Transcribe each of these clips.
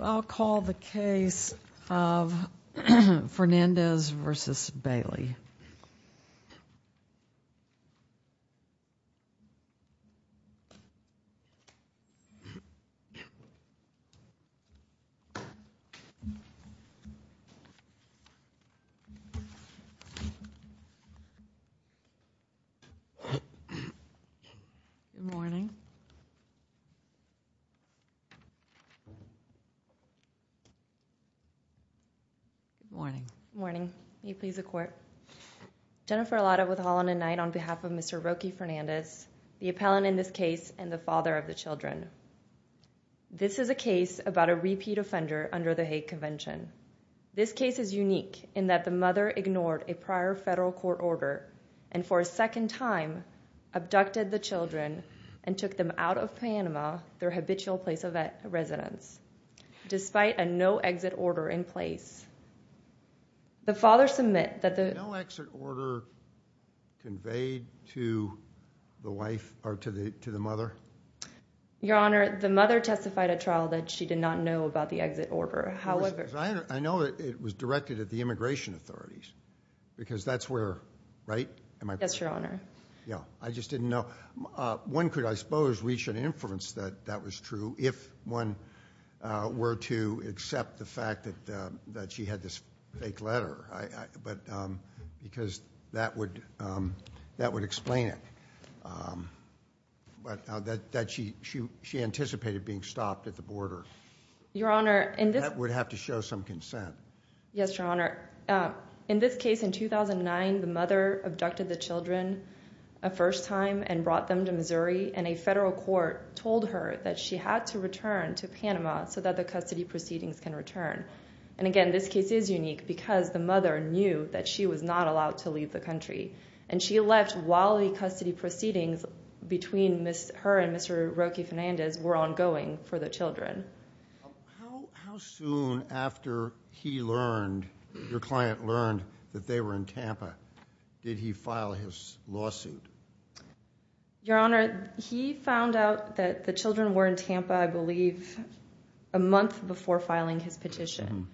I'll call the case of Fernandez v. Bailey. Jennifer Arlotta Jennifer Arlotta with Holland and Knight on behalf of Mr. Roque Fernandez, the appellant in this case and the father of the children. This is a case about a repeat offender under the Hague Convention. This case is unique in that the mother ignored a prior federal court order and for a second time abducted the children and took them out of Panama, their habitual place of residence, despite a no-exit order in place. The father submit that the No-exit order conveyed to the wife or to the mother? Your Honor, the mother testified at trial that she did not know about the exit order. However, I know it was directed at the immigration authorities because that's where, right? Yes, Your Honor. Yeah, I just didn't know. One could, I suppose, reach an inference that that was true if one were to accept the fact that she had this fake letter because that would explain it, that she anticipated being stopped at the border. Your Honor. That would have to show some consent. Yes, Your Honor. In this case, in 2009, the mother abducted the children a first time and brought them to Missouri and a federal court told her that she had to return to Panama so that the custody proceedings can return. Again, this case is unique because the mother knew that she was not allowed to leave the country and she left while the custody proceedings between her and Mr. Roque Fernandez were ongoing for the children. How soon after he learned, your client learned, that they were in Tampa, did he file his lawsuit? Your Honor, he found out that the children were in Tampa, I believe, a month before filing his petition.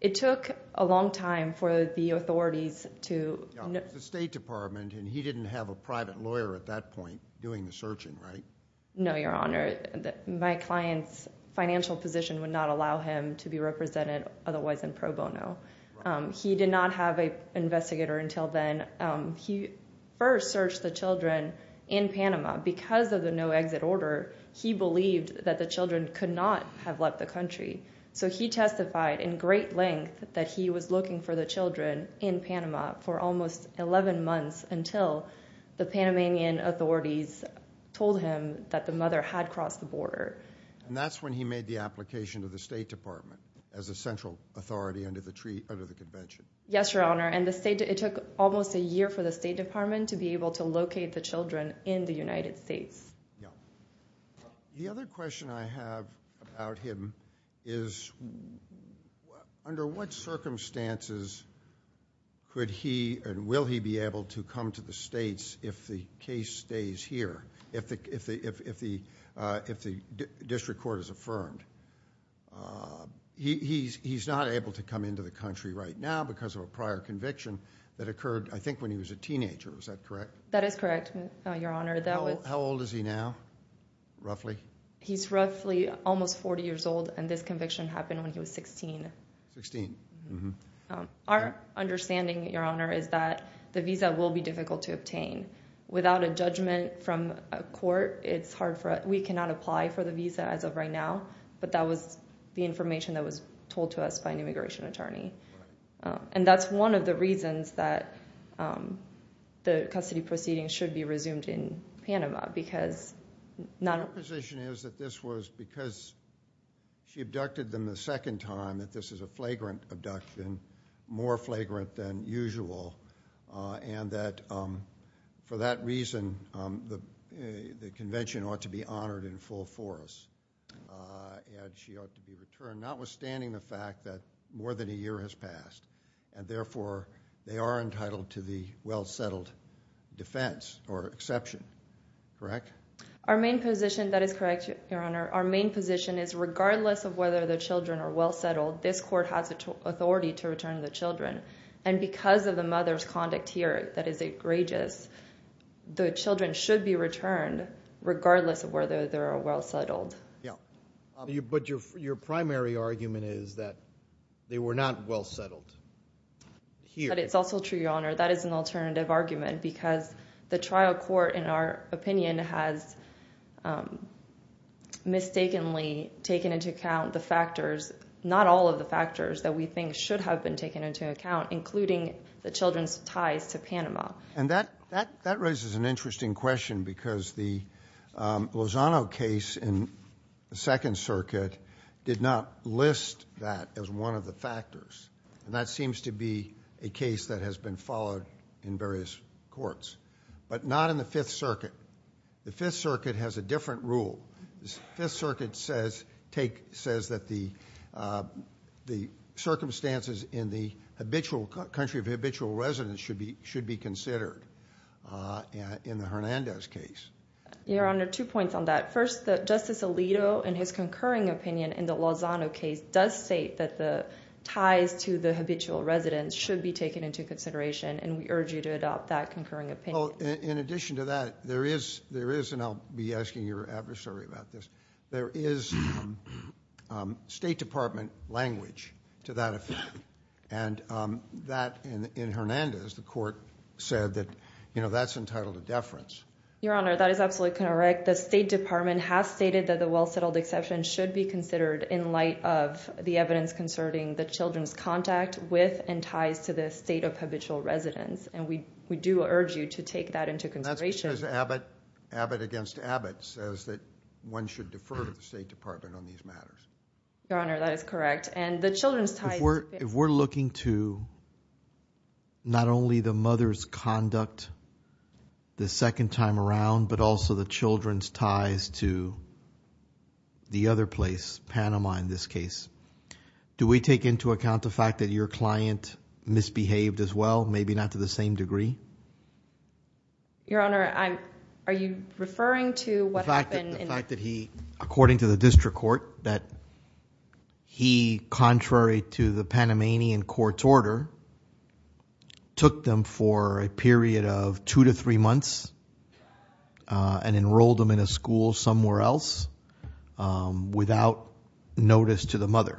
It took a long time for the authorities to... Yeah, it was the State Department and he didn't have a private lawyer at that point doing the searching, right? No, Your Honor. My client's financial position would not allow him to be represented otherwise than pro bono. He did not have an investigator until then. He first searched the children in Panama because of the no exit order. He believed that the children could not have left the country. He testified in great length that he was looking for the children in Panama for almost 11 months until the Panamanian authorities told him that the mother had crossed the border. That's when he made the application to the State Department as a central authority under the convention. Yes, Your Honor. It took almost a year for the State Department to be able to locate the children in the United States. The other question I have about him is under what circumstances could he and will he be able to come to the states if the case stays here, if the district court is affirmed? He's not able to come into the country right now because of a prior conviction that occurred, I think, when he was a teenager. Is that correct? That is correct, Your Honor. How old is he now, roughly? He's roughly almost 40 years old and this conviction happened when he was 16. 16. Our understanding, Your Honor, is that the visa will be difficult to obtain. Without a judgment from a court, we cannot apply for the visa as of right now, but that was the information that was told to us by an immigration attorney. That's one of the reasons that the custody proceedings should be resumed in Panama because... Our position is that this was because she abducted them the second time, that this is a flagrant abduction, more flagrant than usual, and that for that reason, the convention ought to be honored in full force and she ought to be returned, notwithstanding the fact that more than a year has passed and therefore, they are entitled to the well-settled defense or exception. Correct? Our main position... That is correct, Your Honor. Our main position is regardless of whether the children are well-settled, this court has authority to return the children and because of the mother's conduct here that is egregious, the children should be returned regardless of whether they are well-settled. Your primary argument is that they were not well-settled here. It's also true, Your Honor. That is an alternative argument because the trial court, in our opinion, has mistakenly taken into account the factors, not all of the factors that we think should have been taken into account, including the children's ties to Panama. That raises an interesting question because the Lozano case in the Second Circuit did not list that as one of the factors and that seems to be a case that has been followed in various courts, but not in the Fifth Circuit. The Fifth Circuit has a different rule. The Fifth Circuit says that the circumstances in the country of habitual residence should be considered in the Hernandez case. Your Honor, two points on that. First, Justice Alito, in his concurring opinion in the Lozano case, does state that the ties to the habitual residence should be taken into consideration and we urge you to adopt that concurring opinion. In addition to that, there is, and I'll be asking your adversary about this, there is State Department language to that opinion and that in Hernandez, the court said that that's entitled to deference. Your Honor, that is absolutely correct. The State Department has stated that the well-settled exception should be considered in light of the evidence concerning the children's contact with and ties to the state of habitual residence and we do urge you to take that into consideration. That's because Abbott, Abbott against Abbott, says that one should defer to the State Department on these matters. Your Honor, that is correct. And the children's ties... If we're looking to not only the mother's conduct the second time around, but also the children's ties to the other place, Panama in this case, do we take into account the fact that your client misbehaved as well, maybe not to the same degree? Your Honor, I'm... Are you referring to what happened in... The fact that he, according to the district court, that he, contrary to the Panamanian court's order, took them for a period of two to three months and enrolled them in a school somewhere else without notice to the mother?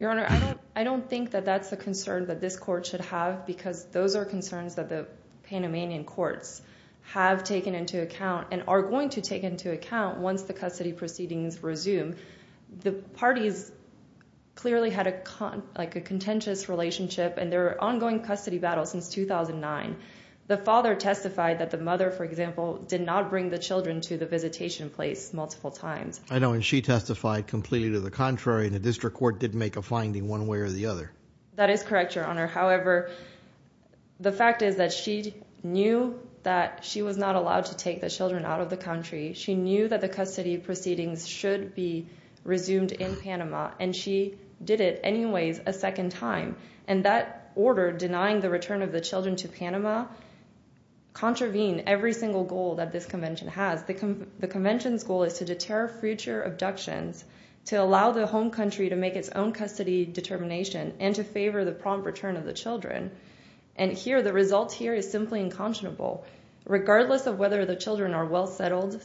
Your Honor, I don't think that that's the concern that this court should have because those are concerns that the Panamanian courts have taken into account and are going to take into account once the custody proceedings resume. The parties clearly had a contentious relationship and there are ongoing custody battles since 2009. The father testified that the mother, for example, did not bring the children to the visitation place multiple times. I know, and she testified completely to the contrary and the district court didn't make a finding one way or the other. That is correct, Your Honor. However, the fact is that she knew that she was not allowed to take the children out of the country. She knew that the custody proceedings should be resumed in Panama and she did it anyways a second time. That order denying the return of the children to Panama contravened every single goal that this convention has. The convention's goal is to deter future abductions, to allow the home country to make its own custody determination, and to favor the prompt return of the children. The result here is simply unconscionable. Regardless of whether the children are well settled,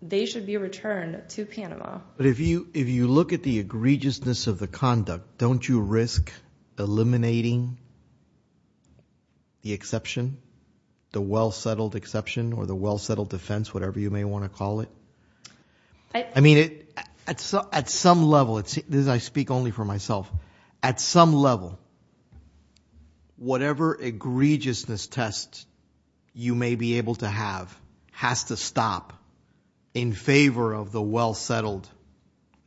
they should be returned to Panama. But if you look at the egregiousness of the conduct, don't you risk eliminating the exception, the well settled exception, or the well settled defense, whatever you may want to call it? I mean, at some level, I speak only for myself, at some level, whatever egregiousness test you may be able to have has to stop in favor of the well settled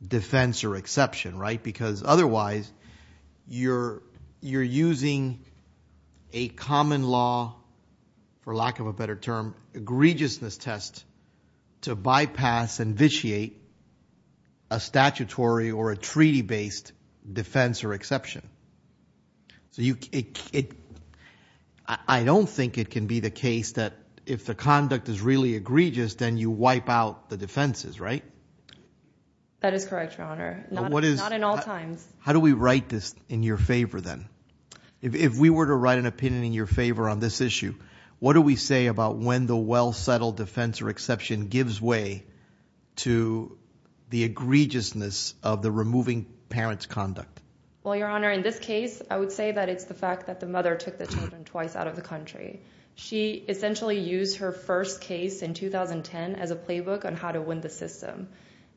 defense or exception, right? Because otherwise, you're using a common law, for lack of a better term, egregiousness test to bypass and vitiate a statutory or a treaty based defense or exception. So, I don't think it can be the case that if the conduct is really egregious, then you wipe out the defenses, right? That is correct, Your Honor. Not in all times. How do we write this in your favor, then? If we were to write an opinion in your favor on this issue, what do we say about when the well settled defense or exception gives way to the egregiousness of the removing parent's conduct? Well, Your Honor, in this case, I would say that it's the fact that the mother took the children twice out of the country. She essentially used her first case in 2010 as a playbook on how to win the system.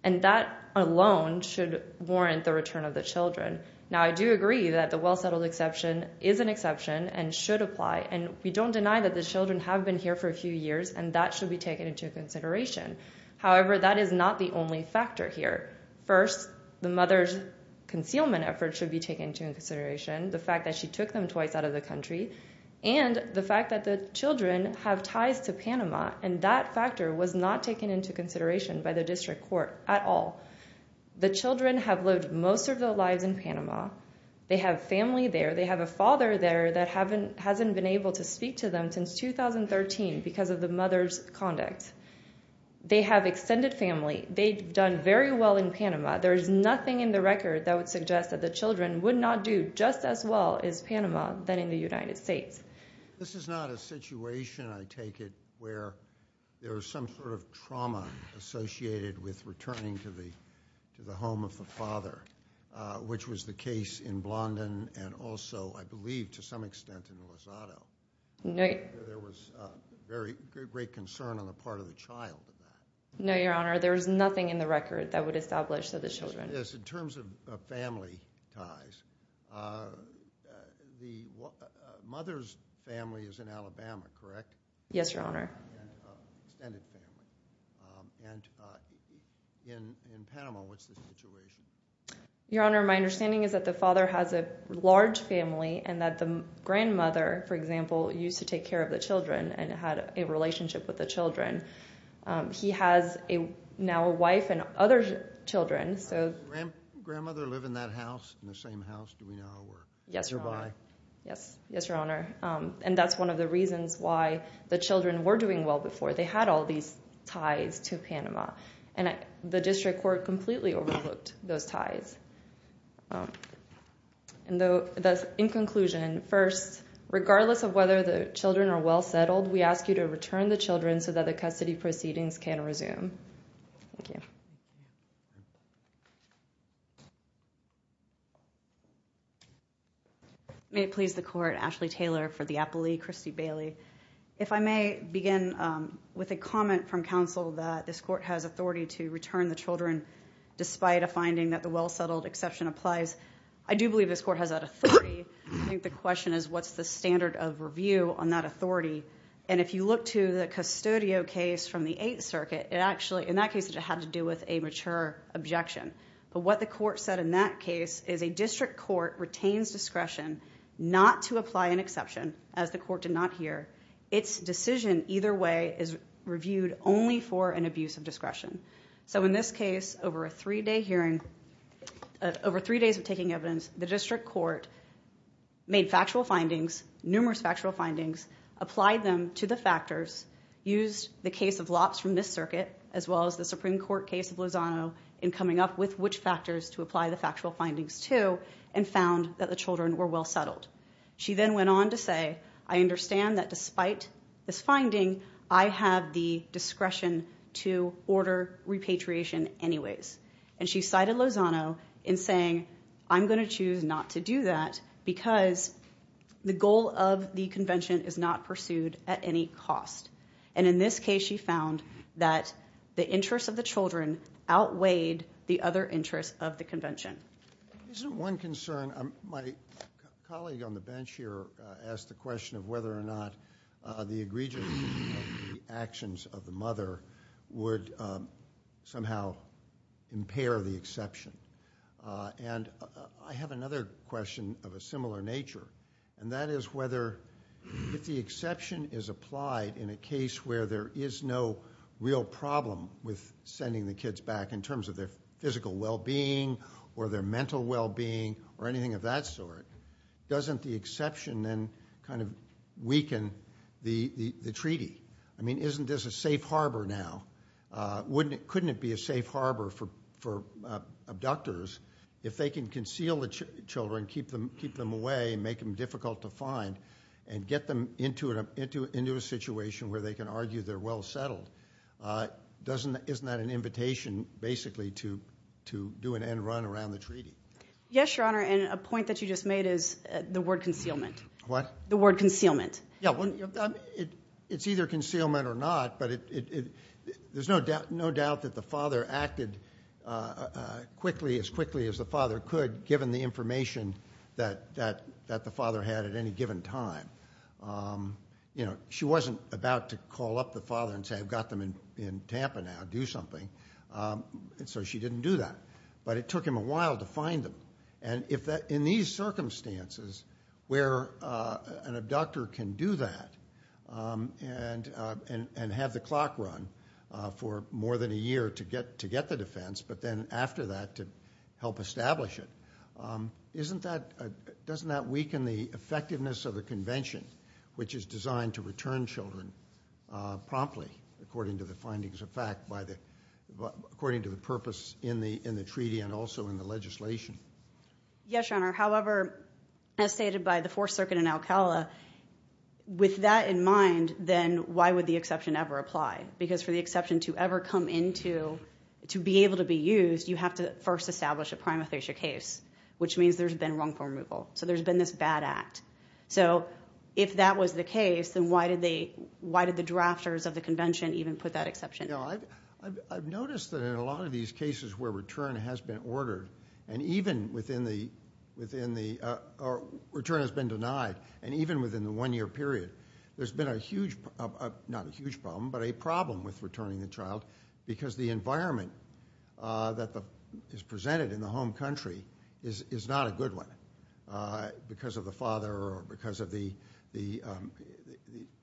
And that alone should warrant the return of the children. Now, I do agree that the well settled exception is an exception and should apply, and we don't deny that the children have been here for a few years, and that should be taken into consideration. However, that is not the only factor here. First, the mother's concealment efforts should be taken into consideration, the fact that she took them twice out of the country, and the fact that the children have ties to Panama, and that factor was not taken into consideration by the district court at all. The children have lived most of their lives in Panama. They have family there. They have a father there that hasn't been able to speak to them since 2013 because of the mother's conduct. They have extended family. They've done very well in Panama. There is nothing in the record that would suggest that the children would not do just as well as Panama than in the United States. This is not a situation, I take it, where there is some sort of trauma associated with returning to the home of the father, which was the case in Blondin and also, I believe, to some extent, in Lozado. There was great concern on the part of the child in that. No, Your Honor, there is nothing in the record that would establish that the children... Yes, in terms of family ties, the mother's family is in Alabama, correct? Yes, Your Honor. And extended family. And in Panama, what's the situation? Your Honor, my understanding is that the father has a large family and that the grandmother, for example, used to take care of the children and had a relationship with the children. He has now a wife and other children, so... Does the grandmother live in that house, in the same house, do we know, or... Yes, Your Honor. Yes, Your Honor. And that's one of the reasons why the children were doing well before. They had all these ties to Panama. And the district court completely overlooked those ties. In conclusion, first, regardless of whether the children are well settled, we ask you to return the children so that the custody proceedings can resume. Thank you. May it please the Court, Ashley Taylor for the Appellee, Christy Bailey. If I may begin with a comment from counsel that this Court has authority to return the children despite a finding that the well settled exception applies. I do believe this Court has that authority. I think the question is what's the standard of review on that authority? And if you look to the Custodio case from the Eighth Circuit, in that case it had to do with a mature objection. But what the Court said in that case is a district court retains discretion not to apply an exception, as the Court did not hear. Its decision either way is reviewed only for an abuse of discretion. So in this case, over a three-day hearing, over three days of taking evidence, the district court applied them to the factors, used the case of Lops from this circuit, as well as the Supreme Court case of Lozano, in coming up with which factors to apply the factual findings to, and found that the children were well settled. She then went on to say, I understand that despite this finding, I have the discretion to order repatriation anyways. And she cited Lozano in saying, I'm going to choose not to do that because the goal of the Convention is not pursued at any cost. And in this case, she found that the interests of the children outweighed the other interests of the Convention. Isn't one concern, my colleague on the bench here asked the question of whether or not the egregious actions of the mother would somehow impair the exception. And I have another question of a similar nature. And that is whether, if the exception is applied in a case where there is no real problem with sending the kids back in terms of their physical well-being, or their mental well-being, or anything of that sort, doesn't the exception then kind of weaken the treaty? I mean, isn't this a safe harbor now? Couldn't it be a safe harbor for abductors if they can conceal the children, keep them away, make them difficult to find, and get them into a situation where they can argue they're well settled? Isn't that an invitation, basically, to do an end run around the treaty? Yes, Your Honor. And a point that you just made is the word concealment. What? The word concealment. It's either concealment or not. But there's no doubt that the father acted as quickly as the father could, given the information that the father had at any given time. She wasn't about to call up the father and say, I've got them in Tampa now. Do something. So she didn't do that. But it took him a while to find them. In these circumstances, where an abductor can do that and have the clock run for more than a year to get the defense, but then after that to help establish it, doesn't that weaken the effectiveness of the convention, which is designed to return children promptly, according to the findings of fact, according to the purpose in the treaty and also in the legislation? Yes, Your Honor. However, as stated by the Fourth Circuit in Alcala, with that in mind, then why would the exception ever apply? Because for the exception to ever come into, to be able to be used, you have to first establish a prima facie case, which means there's been wrongful removal. So there's been this bad act. So if that was the case, then why did the drafters of the convention even put that exception? I've noticed that in a lot of these cases where return has been ordered, and even within the, return has been denied, and even within the one-year period, there's been a huge, not a huge problem, but a problem with returning the child, because the environment that is there, or because of the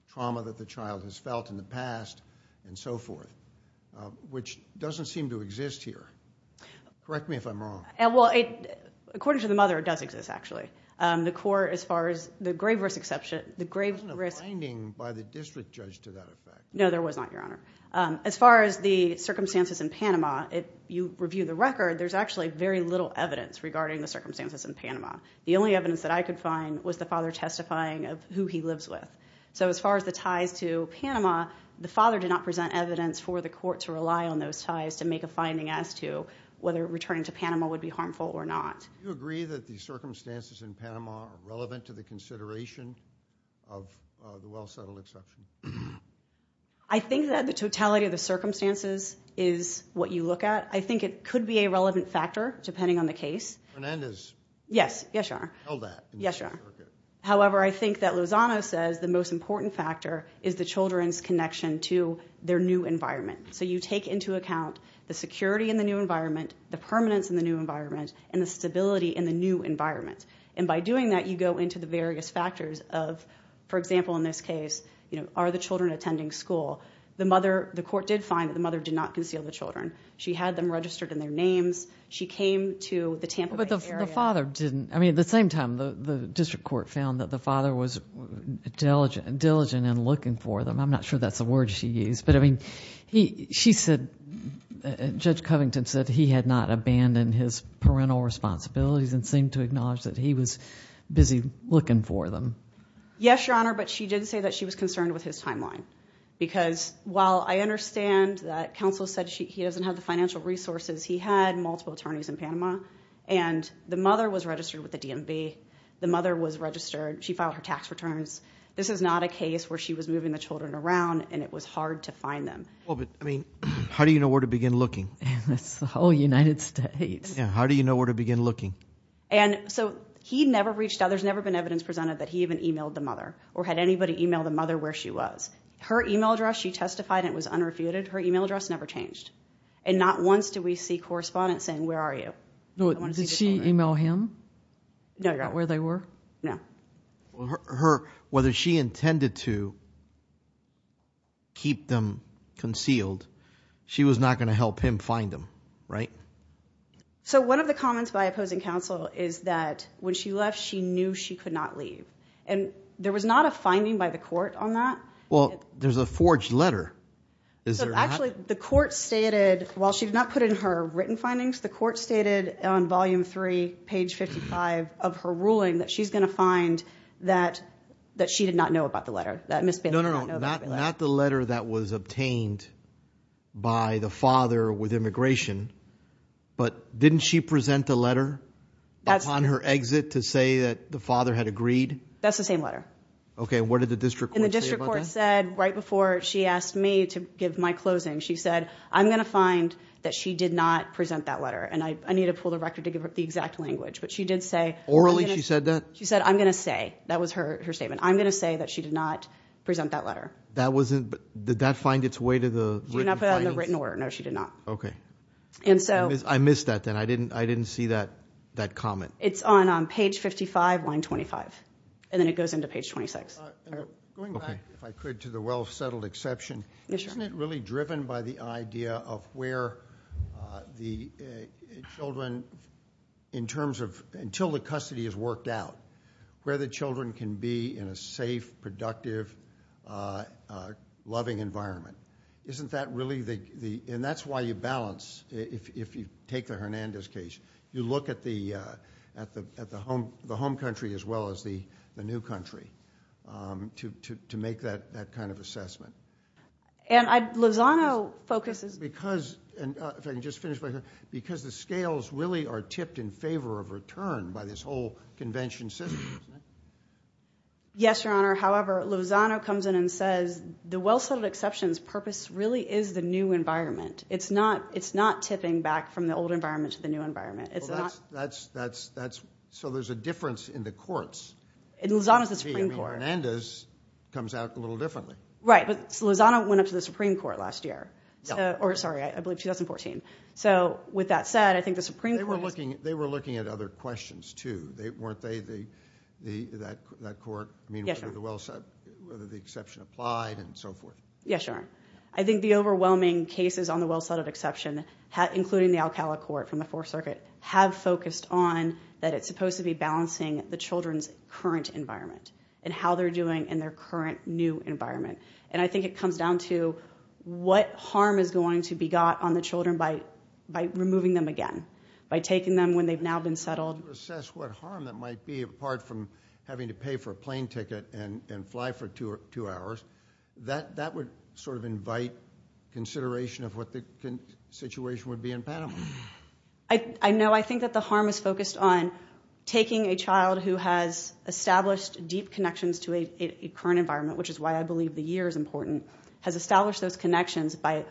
trauma that the child has felt in the past, and so forth, which doesn't seem to exist here. Correct me if I'm wrong. Well, according to the mother, it does exist, actually. The court, as far as the grave risk exception, the grave risk... There wasn't a finding by the district judge to that effect. No, there was not, Your Honor. As far as the circumstances in Panama, if you review the record, there's actually very little evidence regarding the circumstances in Panama. The only evidence that I could find was the father testifying of who he lives with. So as far as the ties to Panama, the father did not present evidence for the court to rely on those ties to make a finding as to whether returning to Panama would be harmful or not. Do you agree that the circumstances in Panama are relevant to the consideration of the well-settled exception? I think that the totality of the circumstances is what you look at. I think it could be a relevant factor, depending on the case. Hernandez? Yes, Your Honor. Tell that. Yes, Your Honor. However, I think that Lozano says the most important factor is the children's connection to their new environment. So you take into account the security in the new environment, the permanence in the new environment, and the stability in the new environment. And by doing that, you go into the various factors of, for example, in this case, are the children attending school? The court did find that the mother did not conceal the children. She had them registered in their names. She came to the Tampa Bay area. But the father didn't. I mean, at the same time, the district court found that the father was diligent in looking for them. I'm not sure that's the word she used. But I mean, she said, Judge Covington said he had not abandoned his parental responsibilities and seemed to acknowledge that he was busy looking for them. Yes, Your Honor. But she did say that she was concerned with his timeline. Because while I understand that counsel said he doesn't have the financial resources he had, multiple attorneys in Panama, and the mother was registered with the DMV. The mother was registered. She filed her tax returns. This is not a case where she was moving the children around, and it was hard to find them. Well, but I mean, how do you know where to begin looking? It's the whole United States. Yeah, how do you know where to begin looking? And so he never reached out. There's never been evidence presented that he even emailed the mother or had anybody email the mother where she was. Her email address, she testified, and it was unrefuted. Her email address never changed. And not once did we see correspondence saying, where are you? Did she email him? No, Your Honor. Where they were? No. Whether she intended to keep them concealed, she was not going to help him find them, right? So one of the comments by opposing counsel is that when she left, she knew she could not leave. And there was not a finding by the court on that. Well, there's a forged letter. Is there not? Actually, the court stated, while she did not put in her written findings, the court stated on Volume 3, page 55 of her ruling that she's going to find that she did not know about the letter, that Ms. Benson did not know about the letter. No, no, no, not the letter that was obtained by the father with immigration. But didn't she present the letter upon her exit to say that the father had agreed? That's the same letter. Okay, and what did the district court say about that? They said right before she asked me to give my closing, she said, I'm going to find that she did not present that letter, and I need to pull the record to give her the exact language. But she did say orally she said that? She said, I'm going to say. That was her statement. I'm going to say that she did not present that letter. Did that find its way to the written findings? She did not put it on the written order. No, she did not. Okay. I missed that then. I didn't see that comment. It's on page 55, line 25, and then it goes into page 26. Going back, if I could, to the well-settled exception. Yes, sir. Isn't it really driven by the idea of where the children in terms of until the custody is worked out, where the children can be in a safe, productive, loving environment? Isn't that really the – and that's why you balance. If you take the Hernandez case, you look at the home country as well as the new country to make that kind of assessment. And Lozano focuses – Because – if I can just finish right here. Because the scales really are tipped in favor of return by this whole convention system, isn't it? Yes, Your Honor. However, Lozano comes in and says the well-settled exception's purpose really is the new environment. It's not tipping back from the old environment to the new environment. That's – so there's a difference in the courts. Lozano's the Supreme Court. Hernandez comes out a little differently. Right, but Lozano went up to the Supreme Court last year. Or, sorry, I believe 2014. So with that said, I think the Supreme Court has – They were looking at other questions too. Weren't they – that court – Yes, Your Honor. Whether the exception applied and so forth. Yes, Your Honor. I think the overwhelming cases on the well-settled exception, including the Alcala court from the Fourth Circuit, have focused on that it's supposed to be balancing the children's current environment and how they're doing in their current new environment. And I think it comes down to what harm is going to be got on the children by removing them again, by taking them when they've now been settled. To assess what harm that might be, apart from having to pay for a plane ticket and fly for two hours, that would sort of invite consideration of what the situation would be in Panama. I know. I think that the harm is focused on taking a child who has established deep connections to a current environment, which is why I believe the year is important, has established those connections by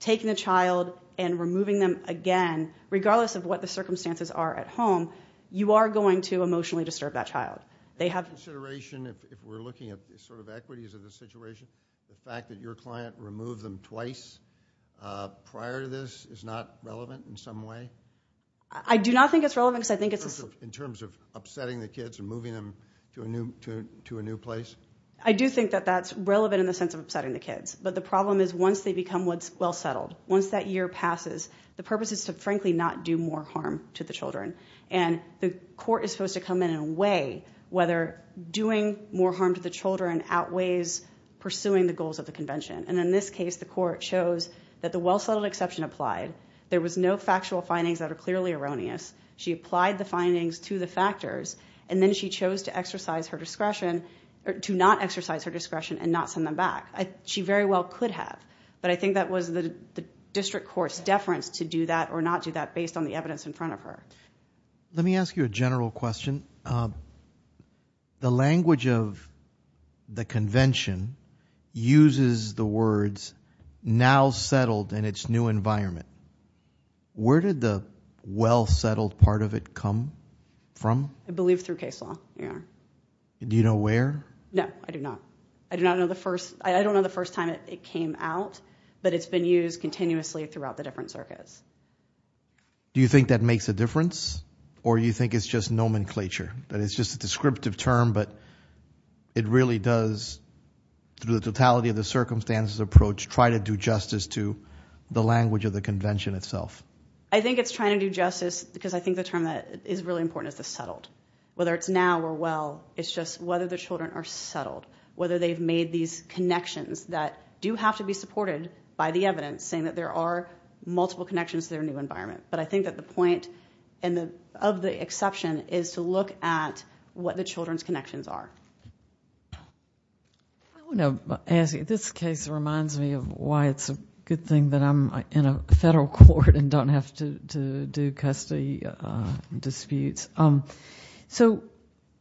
taking the child and removing them again. Regardless of what the circumstances are at home, you are going to emotionally disturb that child. Take into consideration, if we're looking at sort of equities of the situation, the fact that your client removed them twice prior to this is not relevant in some way? I do not think it's relevant because I think it's a— In terms of upsetting the kids and moving them to a new place? I do think that that's relevant in the sense of upsetting the kids. But the problem is once they become well-settled, once that year passes, the purpose is to, frankly, not do more harm to the children. And the court is supposed to come in and weigh whether doing more harm to the children outweighs pursuing the goals of the convention. And in this case, the court shows that the well-settled exception applied. There was no factual findings that are clearly erroneous. She applied the findings to the factors, and then she chose to exercise her discretion— to not exercise her discretion and not send them back. She very well could have, but I think that was the district court's deference to do that or not do that based on the evidence in front of her. Let me ask you a general question. The language of the convention uses the words, now settled in its new environment. Where did the well-settled part of it come from? I believe through case law, yeah. Do you know where? No, I do not. I do not know the first—I don't know the first time it came out, but it's been used continuously throughout the different circuits. Do you think that makes a difference, or do you think it's just nomenclature, that it's just a descriptive term, but it really does, through the totality of the circumstances approach, try to do justice to the language of the convention itself? I think it's trying to do justice because I think the term that is really important is the settled. Whether it's now or well, it's just whether the children are settled, whether they've made these connections that do have to be supported by the evidence, saying that there are multiple connections to their new environment. But I think that the point of the exception is to look at what the children's connections are. I want to ask you, this case reminds me of why it's a good thing that I'm in a federal court and don't have to do custody disputes.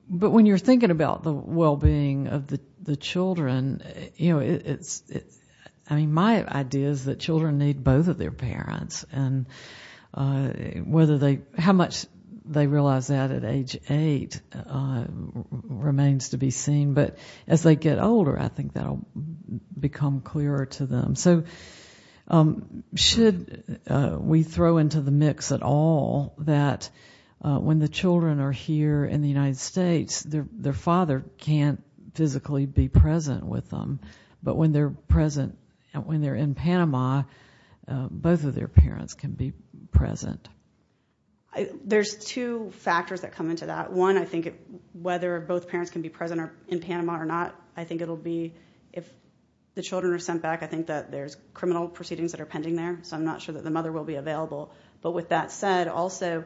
But when you're thinking about the well-being of the children, my idea is that children need both of their parents, and how much they realize that at age eight remains to be seen. But as they get older, I think that will become clearer to them. So should we throw into the mix at all that when the children are here in the United States, their father can't physically be present with them, but when they're in Panama, both of their parents can be present? There's two factors that come into that. One, I think whether both parents can be present in Panama or not, I think it will be if the children are sent back, I think that there's criminal proceedings that are pending there, so I'm not sure that the mother will be available. But with that said, also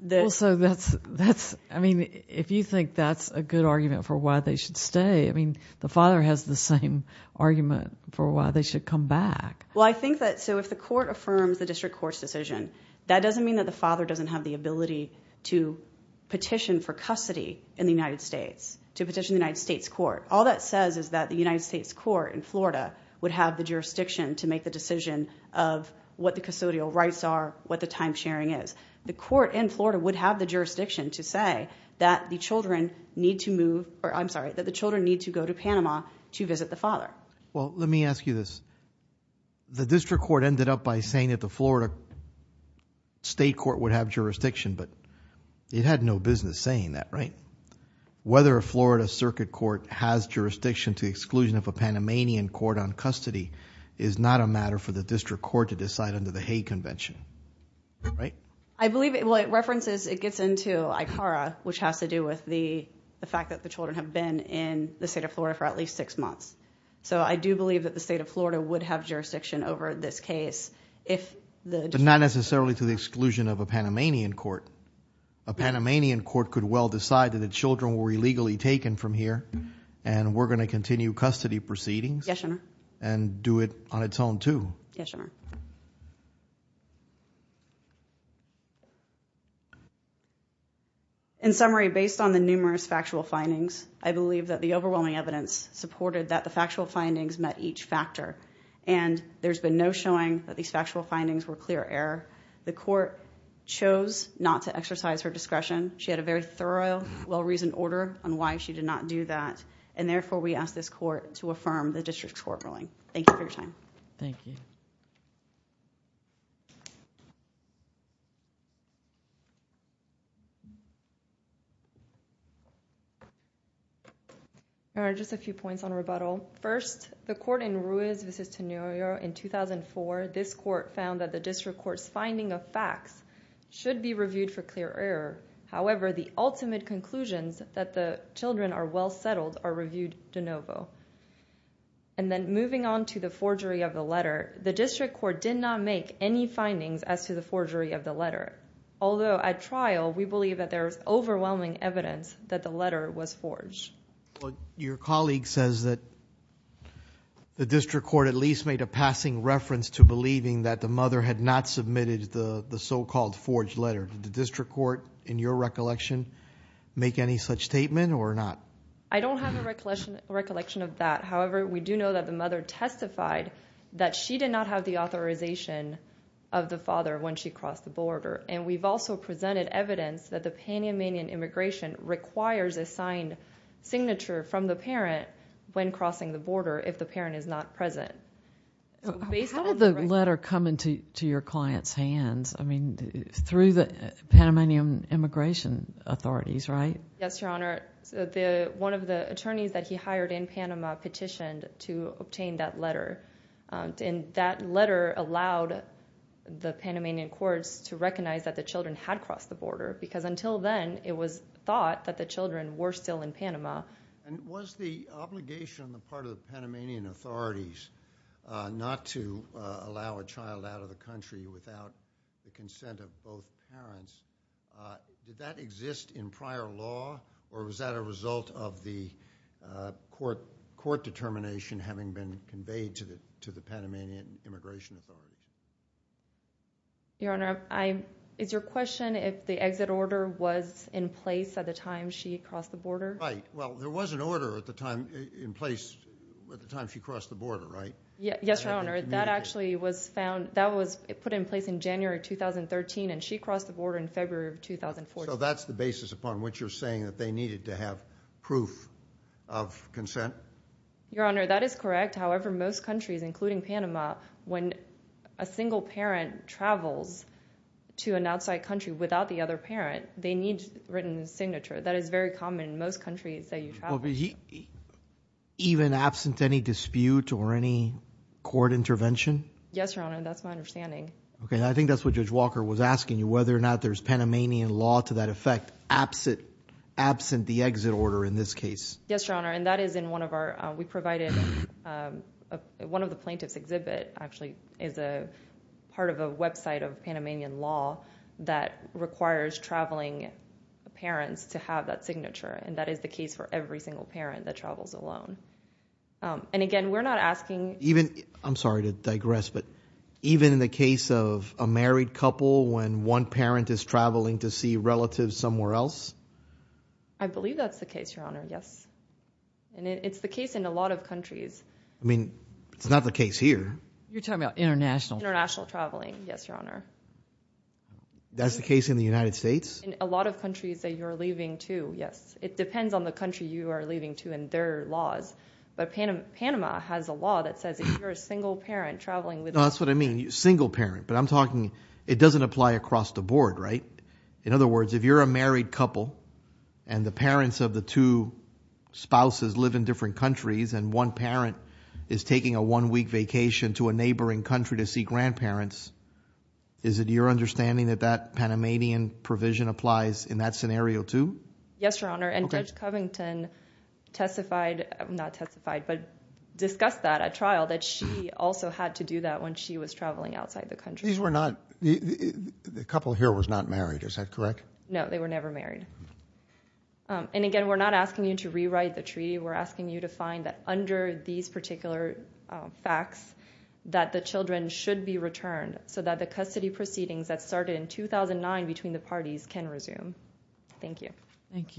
the— Well, so that's—I mean, if you think that's a good argument for why they should stay, I mean, the father has the same argument for why they should come back. Well, I think that—so if the court affirms the district court's decision, that doesn't mean that the father doesn't have the ability to petition for custody in the United States, to petition the United States court. All that says is that the United States court in Florida would have the jurisdiction to make the decision of what the custodial rights are, what the timesharing is. The court in Florida would have the jurisdiction to say that the children need to move— or I'm sorry, that the children need to go to Panama to visit the father. Well, let me ask you this. The district court ended up by saying that the Florida state court would have jurisdiction, but it had no business saying that, right? Whether a Florida circuit court has jurisdiction to the exclusion of a Panamanian court on custody is not a matter for the district court to decide under the Hague Convention, right? I believe—well, it references—it gets into ICARA, which has to do with the fact that the children have been in the state of Florida for at least six months. So I do believe that the state of Florida would have jurisdiction over this case if the— But not necessarily to the exclusion of a Panamanian court. A Panamanian court could well decide that the children were illegally taken from here and we're going to continue custody proceedings and do it on its own too. Yes, Your Honor. In summary, based on the numerous factual findings, I believe that the overwhelming evidence supported that the factual findings met each factor, and there's been no showing that these factual findings were clear error. The court chose not to exercise her discretion. She had a very thorough, well-reasoned order on why she did not do that, and therefore we ask this court to affirm the district court ruling. Thank you for your time. Thank you. All right, just a few points on rebuttal. First, the court in Ruiz v. Tenurio in 2004, this court found that the district court's finding of facts should be reviewed for clear error. However, the ultimate conclusions that the children are well settled are reviewed de novo. And then moving on to the forgery of the letter, the district court did not make any findings as to the forgery of the letter, although at trial we believe that there's overwhelming evidence that the letter was forged. Your colleague says that the district court at least made a passing reference to believing that the mother had not submitted the so-called forged letter. Did the district court, in your recollection, make any such statement or not? I don't have a recollection of that. However, we do know that the mother testified that she did not have the authorization of the father when she crossed the border, and we've also presented evidence that the Panamanian immigration requirement requires a signed signature from the parent when crossing the border if the parent is not present. How did the letter come into your client's hands? I mean, through the Panamanian immigration authorities, right? Yes, Your Honor. One of the attorneys that he hired in Panama petitioned to obtain that letter, and that letter allowed the Panamanian courts to recognize that the children had crossed the border because until then it was thought that the children were still in Panama. Was the obligation on the part of the Panamanian authorities not to allow a child out of the country without the consent of both parents, did that exist in prior law, or was that a result of the court determination having been conveyed to the Panamanian immigration authorities? Your Honor, is your question if the exit order was in place at the time she crossed the border? Right. Well, there was an order in place at the time she crossed the border, right? Yes, Your Honor. That actually was put in place in January 2013, and she crossed the border in February of 2014. So that's the basis upon which you're saying that they needed to have proof of consent? Your Honor, that is correct. However, most countries, including Panama, when a single parent travels to an outside country without the other parent, they need written signature. That is very common in most countries that you travel to. Even absent any dispute or any court intervention? Yes, Your Honor. That's my understanding. Okay. I think that's what Judge Walker was asking you, whether or not there's Panamanian law to that effect absent the exit order in this case. Yes, Your Honor. We provided one of the plaintiff's exhibit, actually is a part of a website of Panamanian law that requires traveling parents to have that signature, and that is the case for every single parent that travels alone. Again, we're not asking— I'm sorry to digress, but even in the case of a married couple when one parent is traveling to see relatives somewhere else? I believe that's the case, Your Honor. Yes. And it's the case in a lot of countries. I mean, it's not the case here. You're talking about international? International traveling. Yes, Your Honor. That's the case in the United States? In a lot of countries that you're leaving to, yes. It depends on the country you are leaving to and their laws. But Panama has a law that says if you're a single parent traveling with— No, that's what I mean. Single parent. But I'm talking—it doesn't apply across the board, right? In other words, if you're a married couple and the parents of the two spouses live in different countries and one parent is taking a one-week vacation to a neighboring country to see grandparents, is it your understanding that that Panamanian provision applies in that scenario too? Yes, Your Honor, and Judge Covington testified— not testified, but discussed that at trial, that she also had to do that when she was traveling outside the country. These were not—the couple here was not married, is that correct? No, they were never married. And again, we're not asking you to rewrite the treaty. We're asking you to find that under these particular facts that the children should be returned so that the custody proceedings that started in 2009 between the parties can resume. Thank you. Thank you.